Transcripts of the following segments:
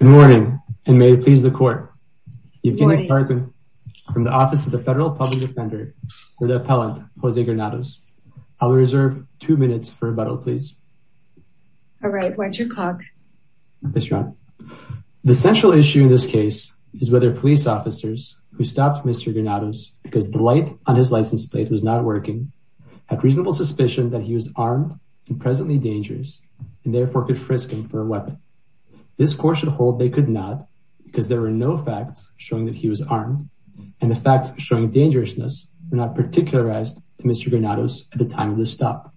Good morning and may it please the court. Evgeny Targuin from the office of the federal public defender for the appellant Jose Granados. I'll reserve two minutes for rebuttal please. All right watch your clock. The central issue in this case is whether police officers who stopped Mr. Granados because the light on his license plate was not working had reasonable suspicion that he was armed and presently dangerous and therefore could frisk him for a weapon. This court should hold they could not because there were no facts showing that he was armed and the facts showing dangerousness were not particularized to Mr. Granados at the time of the stop.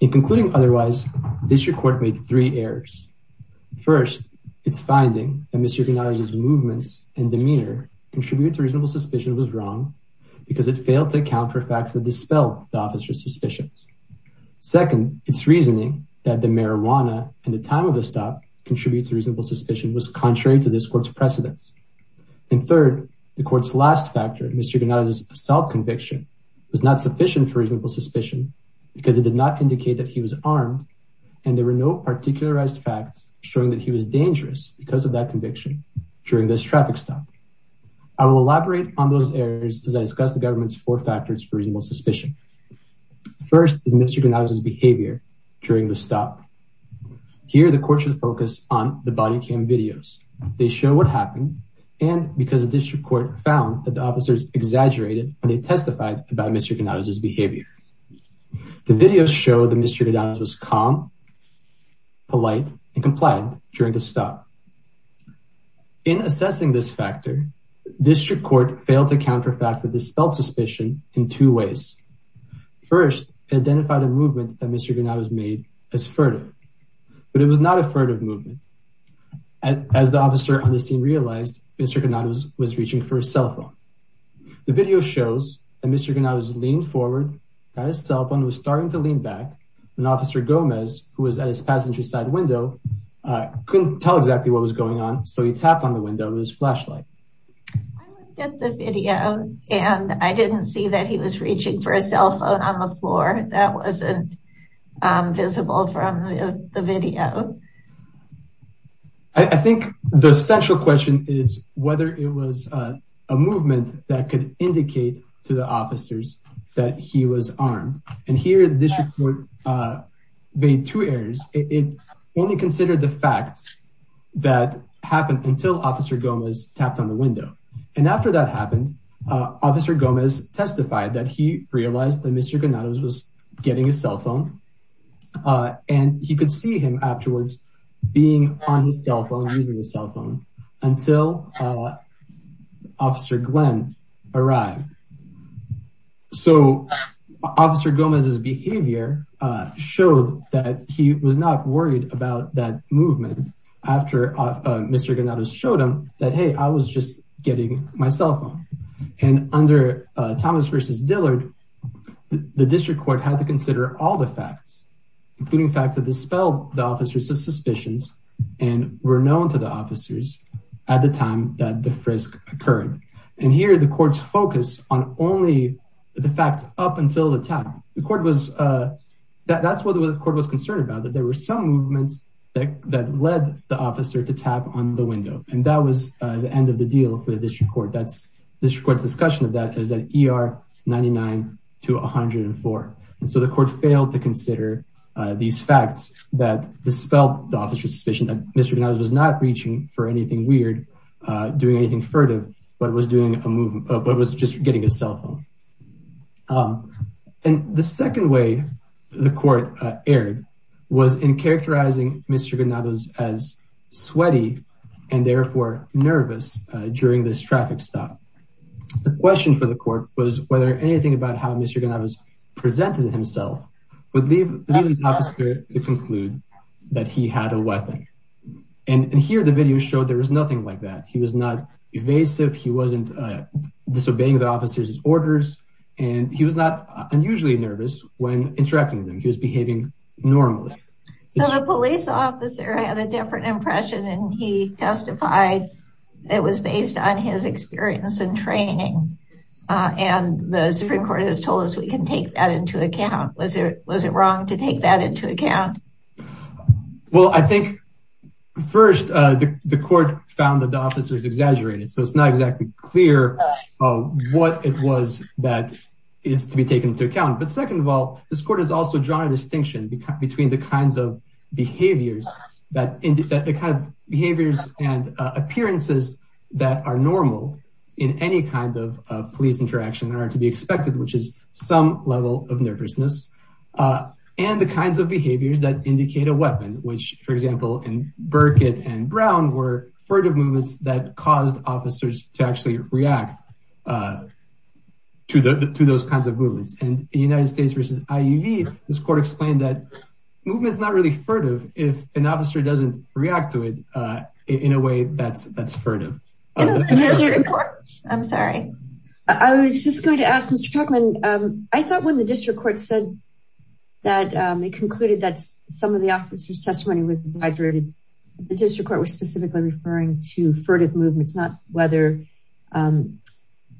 In concluding otherwise this court made three errors. First it's finding that Mr. Granados movements and demeanor contribute to reasonable suspicion was wrong because it failed to account for facts that dispel the officer's suspicions. Second it's reasoning that the marijuana and the stop contribute to reasonable suspicion was contrary to this court's precedence. And third the court's last factor Mr. Granados' self-conviction was not sufficient for reasonable suspicion because it did not indicate that he was armed and there were no particularized facts showing that he was dangerous because of that conviction during this traffic stop. I will elaborate on those errors as I discuss the government's four factors for reasonable suspicion. First is Mr. Granados' behavior during the stop. Here the court should focus on the body cam videos. They show what happened and because the district court found that the officers exaggerated when they testified about Mr. Granados' behavior. The videos show that Mr. Granados was calm, polite, and compliant during the stop. In assessing this factor district court failed to count for facts that dispelled suspicion in two ways. First it identified a movement that Mr. Granados made as furtive but it was not a furtive movement. As the officer on the scene realized Mr. Granados was reaching for his cell phone. The video shows that Mr. Granados leaned forward at his cell phone was starting to lean back when officer Gomez who was at his passenger side window couldn't tell exactly what was going on so he tapped on the window of his and I didn't see that he was reaching for his cell phone on the floor that wasn't visible from the video. I think the central question is whether it was a movement that could indicate to the officers that he was armed and here the district court made two errors it only considered the facts that happened until officer Gomez tapped on the window and after that happened officer Gomez testified that he realized that Mr. Granados was getting his cell phone and he could see him afterwards being on his cell phone using his cell phone until officer Glenn arrived. So officer Gomez's behavior showed that he was not worried about that movement after Mr. Granados showed him that hey I was just getting my cell phone and under Thomas versus Dillard the district court had to consider all the facts including facts that dispelled the officers of suspicions and were known to the officers at the time that the frisk occurred and here the court's focus on only the facts up until the time the court was that that's the officer to tap on the window and that was the end of the deal for the district court that's this court's discussion of that is at er 99 to 104 and so the court failed to consider these facts that dispelled the officer's suspicion that Mr. Granados was not reaching for anything weird doing anything furtive but was doing a movement but was just getting his cell phone and the second way the court erred was in characterizing Mr. Granados as sweaty and therefore nervous during this traffic stop the question for the court was whether anything about how Mr. Granados presented himself would leave the officer to conclude that he had a weapon and here the video showed there was nothing like that he was not evasive he wasn't disobeying the orders and he was not unusually nervous when interacting with him he was behaving normally so the police officer had a different impression and he testified it was based on his experience and training uh and the supreme court has told us we can take that into account was it was it wrong to take that into account well i think first uh the the court found that the officers exaggerated so it's not exactly clear what it was that is to be taken into account but second of all this court has also drawn a distinction between the kinds of behaviors that the kind of behaviors and appearances that are normal in any kind of police interaction that are to be expected which is some level of nervousness and the kinds of behaviors that indicate a weapon which for movements that caused officers to actually react uh to the to those kinds of movements and the united states versus iuv this court explained that movement is not really furtive if an officer doesn't react to it uh in a way that's that's furtive i'm sorry i was just going to ask mr tuckman um i thought when the district court said that um it concluded that some of the officers testimony was exaggerated the district court was specifically referring to furtive movements not whether um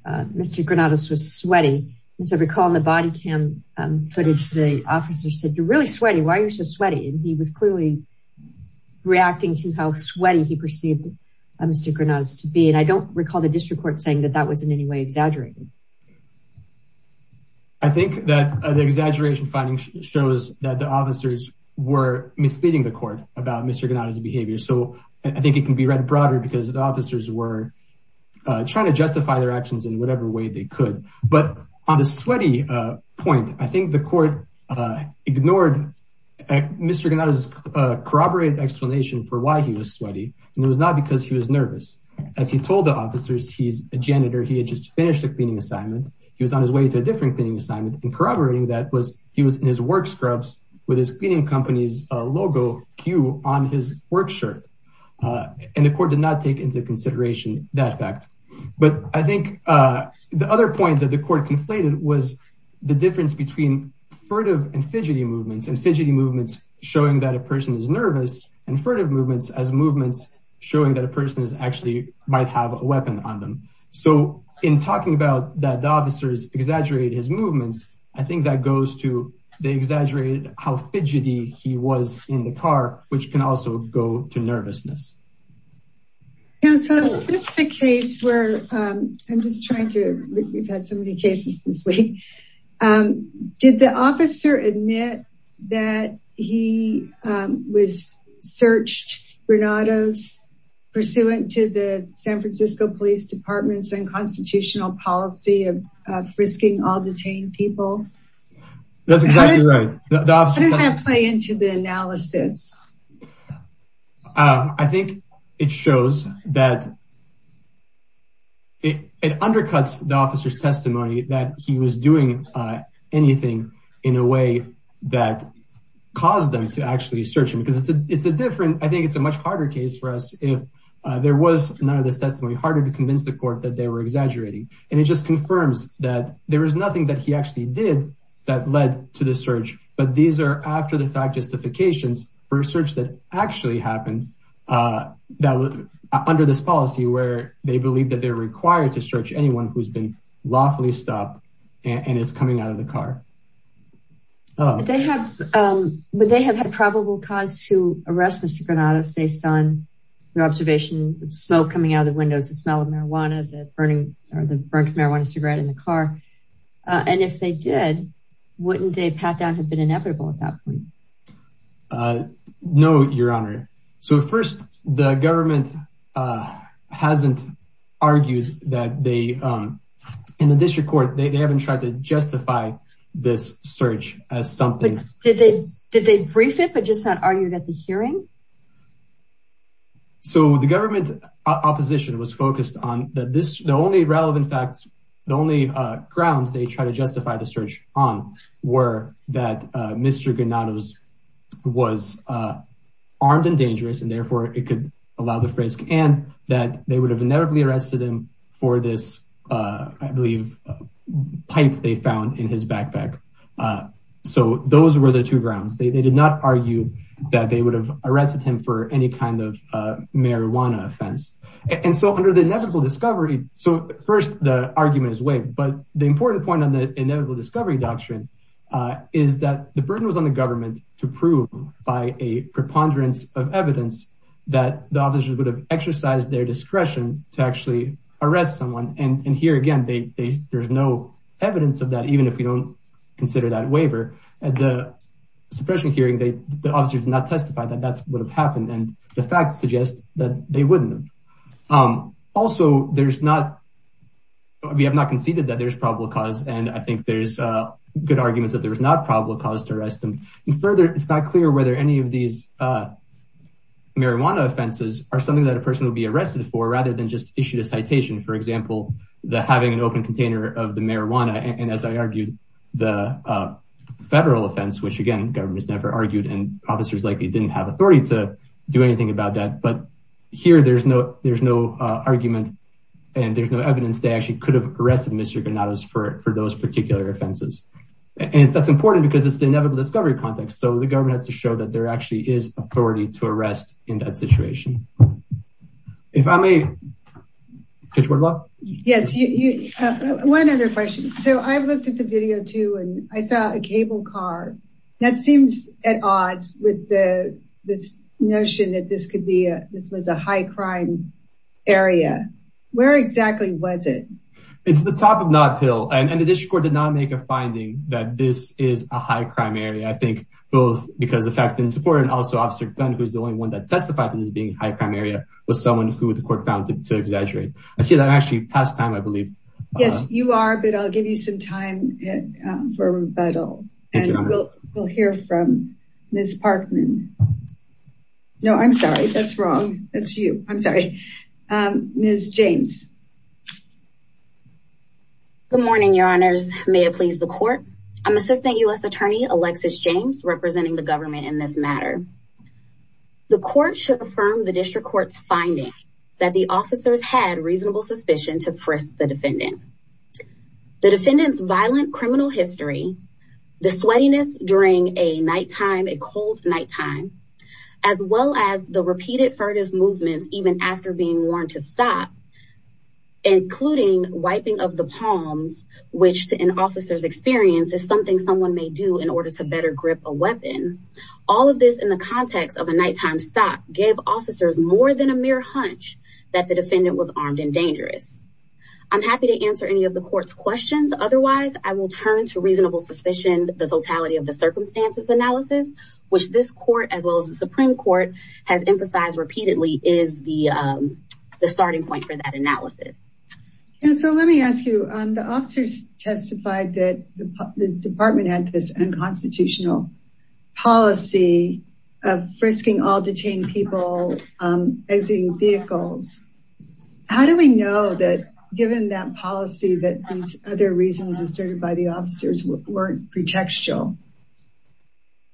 uh mr granados was sweaty and so recall the body cam footage the officers said you're really sweaty why are you so sweaty and he was clearly reacting to how sweaty he perceived mr granados to be and i don't recall the district court saying that that was in any way exaggerated i think that the exaggeration finding shows that the officers were misleading the court about mr ganada's behavior so i think it can be read broader because the officers were trying to justify their actions in whatever way they could but on the sweaty uh point i think the court uh ignored mr ganada's corroborated explanation for why he was sweaty and it was not because he was nervous as he told the officers he's a janitor he had just finished a cleaning assignment he was on his way to a different cleaning assignment and corroborating that was he was in his work scrubs with his cleaning company's logo q on his work shirt and the court did not take into consideration that fact but i think uh the other point that the court conflated was the difference between furtive and fidgety movements and fidgety movements showing that a person is nervous and furtive movements as movements showing that a person is actually might have a weapon on them so in talking about that the officers exaggerated his movements i think that goes to they exaggerated how fidgety he was in the car which can also go to nervousness yeah so this is a case where um i'm just trying to we've had so many cases this week um did the officer admit that he um was searched granados pursuant to the san francisco police department's unconstitutional policy of uh frisking all detained people that's exactly right how does that play into the analysis uh i think it shows that it it undercuts the officer's testimony that he was doing uh anything in a way that caused them to actually search him because it's a it's a different i think it's a much harder case for us if there was none of this testimony harder to convince the court that they were exaggerating and it just confirms that there was nothing that he actually did that led to the search but these are after the fact justifications for a search that actually happened uh that was under this policy where they believe that they're required to search anyone who's been lawfully stopped and it's coming out of the car oh they have um but they have had probable cause to arrest mr granados based on their observations of smoke coming out of the windows the smell of marijuana the burning or the burnt marijuana cigarette in the car and if they did wouldn't they pat down have been inevitable at that point uh no your honor so first the government uh hasn't argued that they um in the district court they haven't tried to justify this search as something did they did they brief it but just not argued at the hearing so the government opposition was focused on that this the only relevant facts the only uh grounds they try to justify the search on were that uh mr granados was uh armed and dangerous and therefore it could allow the frisk and that they would have inevitably arrested him for this uh i believe pipe they found in his backpack uh so those were the two grounds they did not argue that they would have arrested him for any kind of uh marijuana offense and so under the inevitable discovery so first the argument is waived but the important point on the inevitable discovery doctrine uh is that the burden was on the government to prove by a preponderance of evidence that the officers would have exercised their discretion to actually arrest someone and and here again they they there's no evidence of that even if we don't consider that waiver at the suppression hearing they the officers did not testify that that would have happened and the facts suggest that they wouldn't um also there's not we have not conceded that there's probable cause and i think there's uh arguments that there was not probable cause to arrest them and further it's not clear whether any of these uh marijuana offenses are something that a person will be arrested for rather than just issued a citation for example the having an open container of the marijuana and as i argued the uh federal offense which again government's never argued and officers likely didn't have authority to do anything about that but here there's no there's no uh argument and there's no evidence they actually could have arrested mr granados for for those particular offenses and that's important because it's the inevitable discovery context so the government has to show that there actually is authority to arrest in that situation if i may yes you have one other question so i've looked at the video too and i saw a cable car that seems at odds with the this notion that this could be a this was a high crime area where exactly was it it's the top of this is a high crime area i think both because the fact that in support and also officer gun who's the only one that testified to this being high crime area was someone who the court found to exaggerate i see that actually past time i believe yes you are but i'll give you some time for a rebuttal and we'll we'll hear from miss parkman no i'm sorry that's wrong that's you i'm james good morning your honors may it please the court i'm assistant u.s attorney alexis james representing the government in this matter the court should affirm the district court's finding that the officers had reasonable suspicion to frisk the defendant the defendant's violent criminal history the sweatiness during a night time a cold night time as well as the repeated movements even after being warned to stop including wiping of the palms which to an officer's experience is something someone may do in order to better grip a weapon all of this in the context of a nighttime stop gave officers more than a mere hunch that the defendant was armed and dangerous i'm happy to answer any of the court's questions otherwise i will turn to reasonable suspicion the totality of the circumstances analysis which this court as the supreme court has emphasized repeatedly is the starting point for that analysis and so let me ask you the officers testified that the department had this unconstitutional policy of frisking all detained people exiting vehicles how do we know that given that policy that these other reasons asserted by the officers weren't pretextual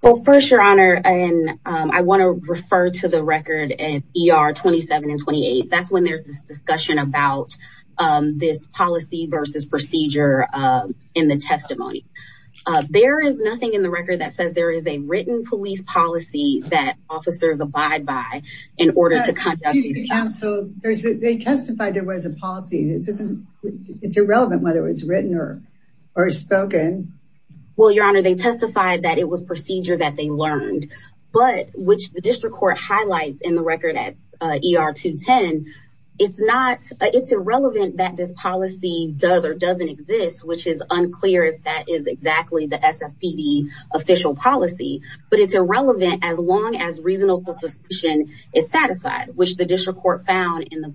well first your honor and i want to refer to the record at er 27 and 28 that's when there's this discussion about this policy versus procedure in the testimony there is nothing in the record that says there is a written police policy that officers abide by in order to conduct these counsel there's they testified there was a policy it doesn't it's irrelevant whether it's written or or spoken well your honor they testified that it was procedure that they learned but which the district court highlights in the record at er 210 it's not it's irrelevant that this policy does or doesn't exist which is unclear if that is exactly the sfpd official policy but it's irrelevant as long as reasonable suspicion is satisfied which the district court found in the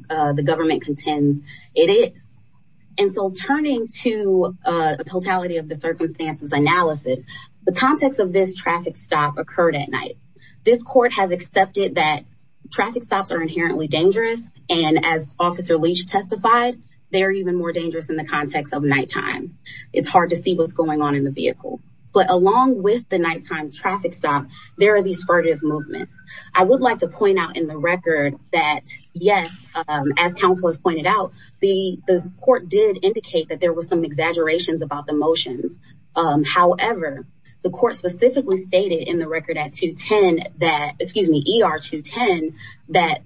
analysis the context of this traffic stop occurred at night this court has accepted that traffic stops are inherently dangerous and as officer leach testified they are even more dangerous in the context of nighttime it's hard to see what's going on in the vehicle but along with the nighttime traffic stop there are these furtive movements i would like to point out in the record that yes um as counsel has pointed out the the court did indicate that there was some exaggerations about the motions um however the court specifically stated in the record at 210 that excuse me er 210 that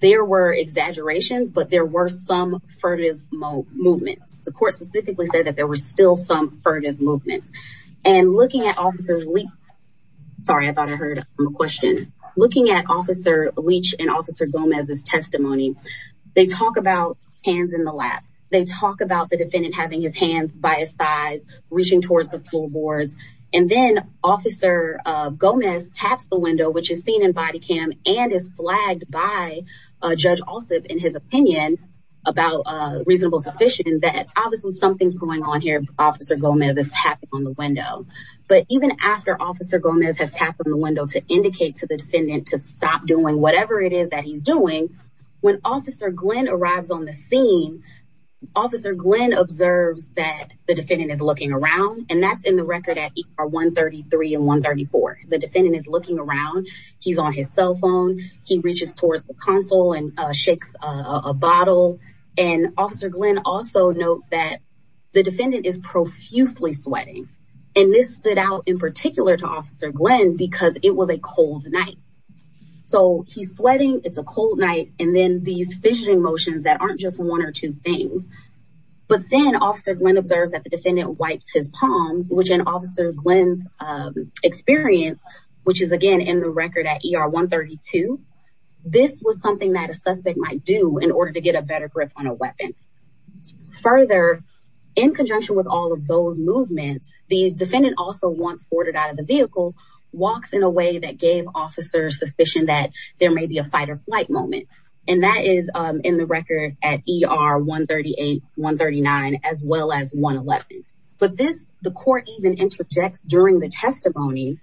there were exaggerations but there were some furtive movements the court specifically said that there were still some furtive movements and looking at officers sorry i thought i heard a question looking at officer leach and officer gomez's testimony they talk about hands in the lap they talk about the defendant having his hands by his thighs reaching towards the floorboards and then officer uh gomez taps the window which is seen in body cam and is flagged by uh judge also in his opinion about uh reasonable suspicion that obviously something's going on here officer gomez is tapping on the window but even after officer gomez has tapped on the window to indicate to the defendant to stop doing whatever it is that he's doing when officer glenn arrives on the scene officer glenn observes that the defendant is looking around and that's in the record at 133 and 134 the defendant is looking around he's on his cell phone he reaches towards the console and shakes a bottle and officer glenn also notes that the defendant is profusely sweating and this stood out in particular to officer glenn because it was a cold night so he's sweating it's and then these fissioning motions that aren't just one or two things but then officer glenn observes that the defendant wiped his palms which an officer glenn's experience which is again in the record at er 132 this was something that a suspect might do in order to get a better grip on a weapon further in conjunction with all of those movements the defendant also once boarded the vehicle walks in a way that gave officers suspicion that there may be a fight or flight moment and that is in the record at er 138 139 as well as 111 but this the court even interjects during the testimony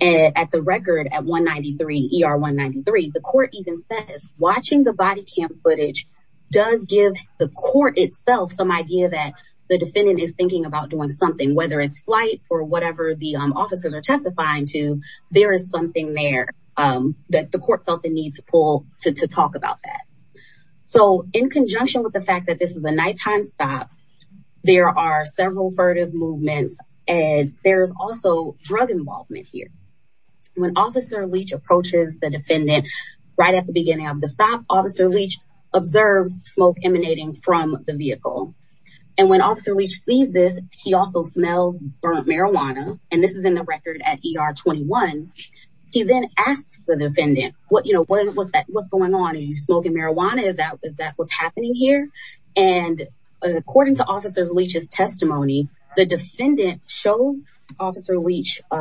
at the record at 193 er 193 the court even says watching the body cam footage does give the court itself some idea that the defendant is thinking about doing something whether it's flight or whatever the officers are testifying to there is something there that the court felt the need to pull to talk about that so in conjunction with the fact that this is a nighttime stop there are several furtive movements and there's also drug involvement here when officer leach approaches the defendant right at the beginning of the stop officer leach observes smoke emanating from the vehicle and when officer leach sees this he also smells burnt marijuana and this is in the record at er 21 he then asks the defendant what you know what was that what's going on are you smoking marijuana is that is that what's happening here and according to officer leach's testimony the defendant shows officer leach a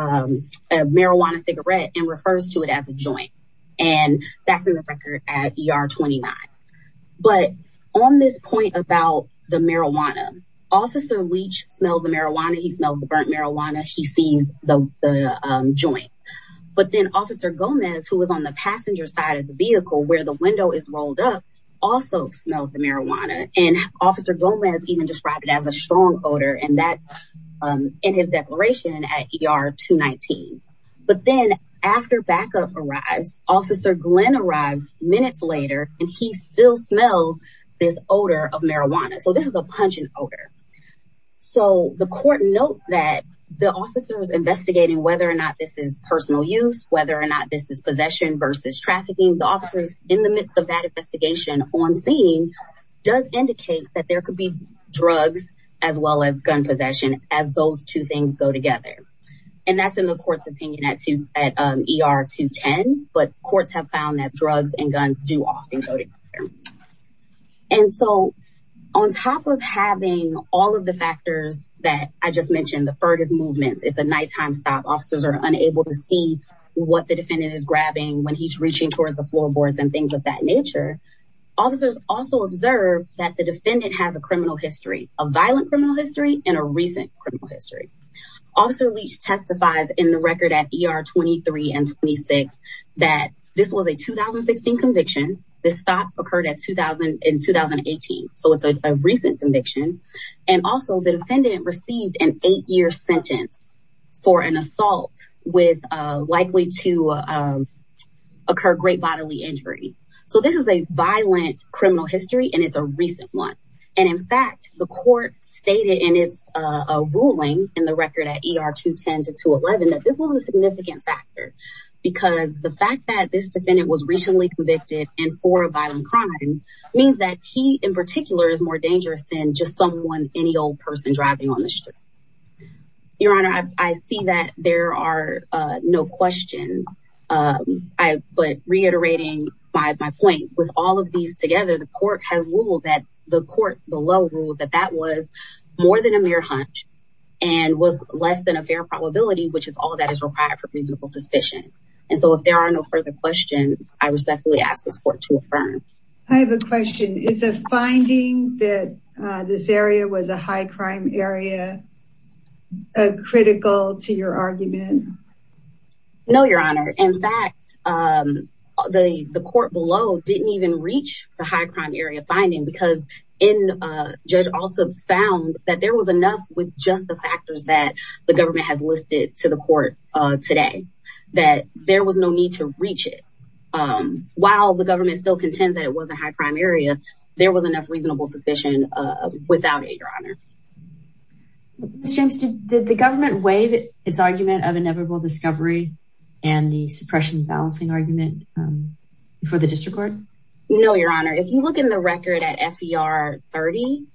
marijuana cigarette and refers to it as a joint and that's in the record at er 29 but on this point about the marijuana officer leach smells the marijuana he smells the burnt marijuana he sees the the joint but then officer gomez who was on the passenger side of the vehicle where the window is rolled up also smells the marijuana and officer gomez even described it as a strong odor and that's um in his declaration at er 219 but then after backup arrives officer glenn arrives minutes later and he still smells this odor of marijuana so this is a pungent odor so the court notes that the officers investigating whether or not this is personal use whether or not this is possession versus trafficking the officers in the midst of that investigation on scene does indicate that there could be drugs as well as gun possession as those two things go together and that's in the court's opinion at two at er 210 but courts have found that drugs and guns do often go together and so on top of having all of the factors that i just mentioned the furthest movements it's a nighttime stop officers are unable to see what the defendant is grabbing when he's reaching towards the floor boards and things of that nature officers also observe that the defendant has a criminal history a violent criminal history and a recent criminal history officer leach testifies in the record at er 23 and 26 that this was a 2016 conviction this stop occurred at 2000 in 2018 so it's a recent conviction and also the defendant received an eight-year sentence for an assault with uh likely to um occur great bodily injury so this is a violent criminal history and it's a recent one and in fact the court stated in its uh ruling in the record at er 210 to 211 that this was a significant factor because the fact that this defendant was recently convicted and for a violent crime means that he in particular is more dangerous than just someone any old person driving on the street your honor i see that there are uh no questions um i but reiterating by my point with all of these together the court has ruled that the court below ruled that that was more than a mere hunch and was less than a fair probability which is all that is required for reasonable suspicion and so if there are no further questions i respectfully ask this court to affirm i have a question is a finding that uh this area was a high crime area a critical to your argument no your honor in fact um the the court below didn't even reach the high crime area finding because in uh judge also found that there was enough with just the factors that the government has listed to the court uh today that there was no need to reach it um while the government still contends that it was a high crime area there was enough reasonable suspicion uh without it your honor can you explain the inevitable discovery and the suppression balancing argument um for the district court no your honor if you look in the record at fer 30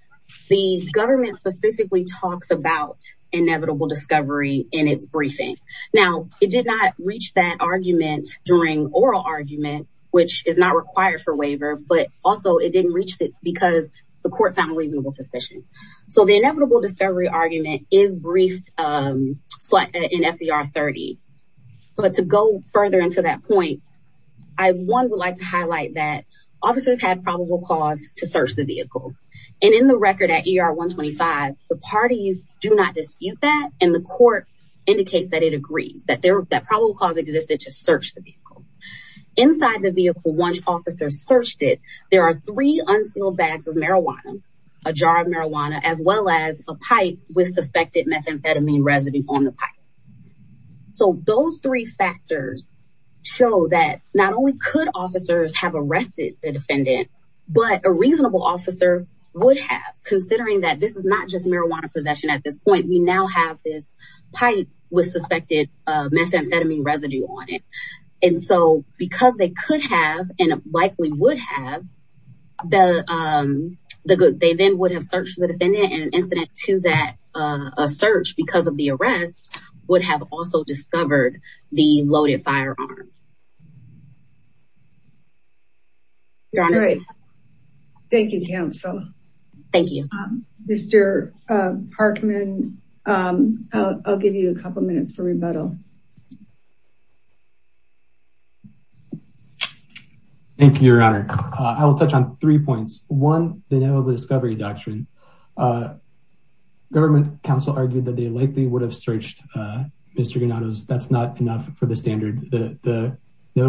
the government specifically talks about inevitable discovery in its briefing now it did not reach that argument during oral argument which is not required for waiver but also it didn't reach it because the court found reasonable suspicion so the inevitable discovery argument is briefed um in fer 30 but to go further into that point i one would like to highlight that officers had probable cause to search the vehicle and in the record at er 125 the parties do not dispute that and the court indicates that it agrees that there that probable cause existed to search the vehicle inside the vehicle once officers searched it there are three unsealed bags of marijuana a jar of marijuana as well as a pipe with suspected methamphetamine residue on the pipe so those three factors show that not only could officers have arrested the defendant but a reasonable officer would have considering that this is not just marijuana possession at this point we now have this pipe with suspected uh methamphetamine residue on it and so because they could have and likely would have the um the good they then would have searched the defendant and incident to that uh a search because of the arrest would have also discovered the loaded firearm your honor thank you counsel thank you um mr uh parkman um i'll give you a couple minutes for your honor thank you your honor i will touch on three points one the name of the discovery doctrine uh government council argued that they likely would have searched uh mr ganados that's not enough for the standard the the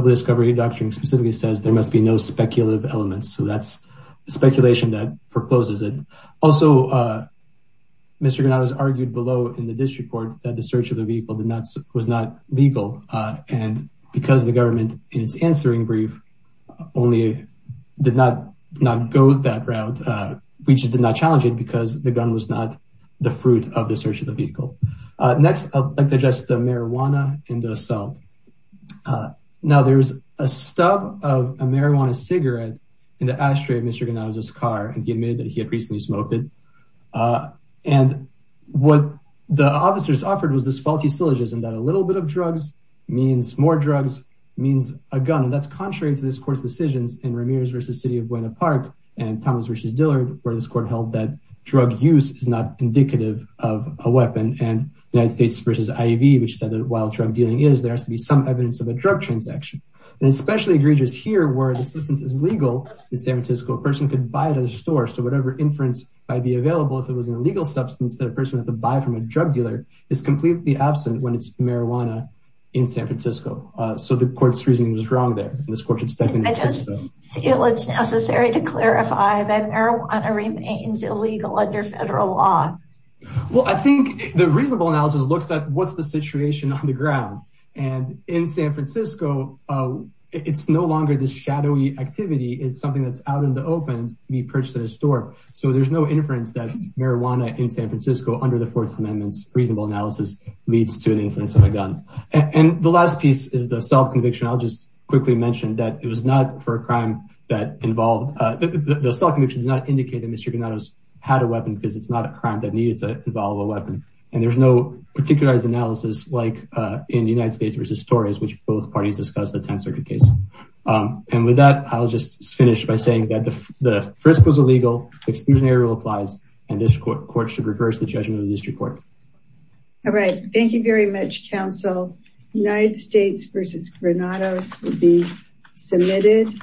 discovery doctrine specifically says there must be no speculative elements so that's speculation that forecloses it also uh mr ganados argued below in the district court that the search of the vehicle did not was not legal uh and because the government in its answering brief only did not not go that route uh we just did not challenge it because the gun was not the fruit of the search of the vehicle uh next i'd like to just the marijuana and the assault uh now there's a stub of a marijuana cigarette in the ashtray of uh and what the officers offered was this faulty syllogism that a little bit of drugs means more drugs means a gun that's contrary to this court's decisions in ramirez versus city of buena park and thomas versus dillard where this court held that drug use is not indicative of a weapon and united states versus iv which said that while drug dealing is there has to be some evidence of a drug transaction and especially egregious here where the substance is legal in san might be available if it was an illegal substance that a person had to buy from a drug dealer is completely absent when it's marijuana in san francisco uh so the court's reasoning was wrong there this court should step in i just feel it's necessary to clarify that marijuana remains illegal under federal law well i think the reasonable analysis looks at what's the situation on the ground and in san francisco uh it's no longer this shadowy activity it's so there's no inference that marijuana in san francisco under the fourth amendment's reasonable analysis leads to an influence on a gun and the last piece is the self-conviction i'll just quickly mention that it was not for a crime that involved uh the self-conviction does not indicate that mr ganados had a weapon because it's not a crime that needed to involve a weapon and there's no particularized analysis like uh in the united states versus torres which both parties discussed the 10th circuit case um and with that i'll just finish by saying that the first was illegal exclusionary rule applies and this court court should reverse the judgment of the district court all right thank you very much council united states versus granados will be submitted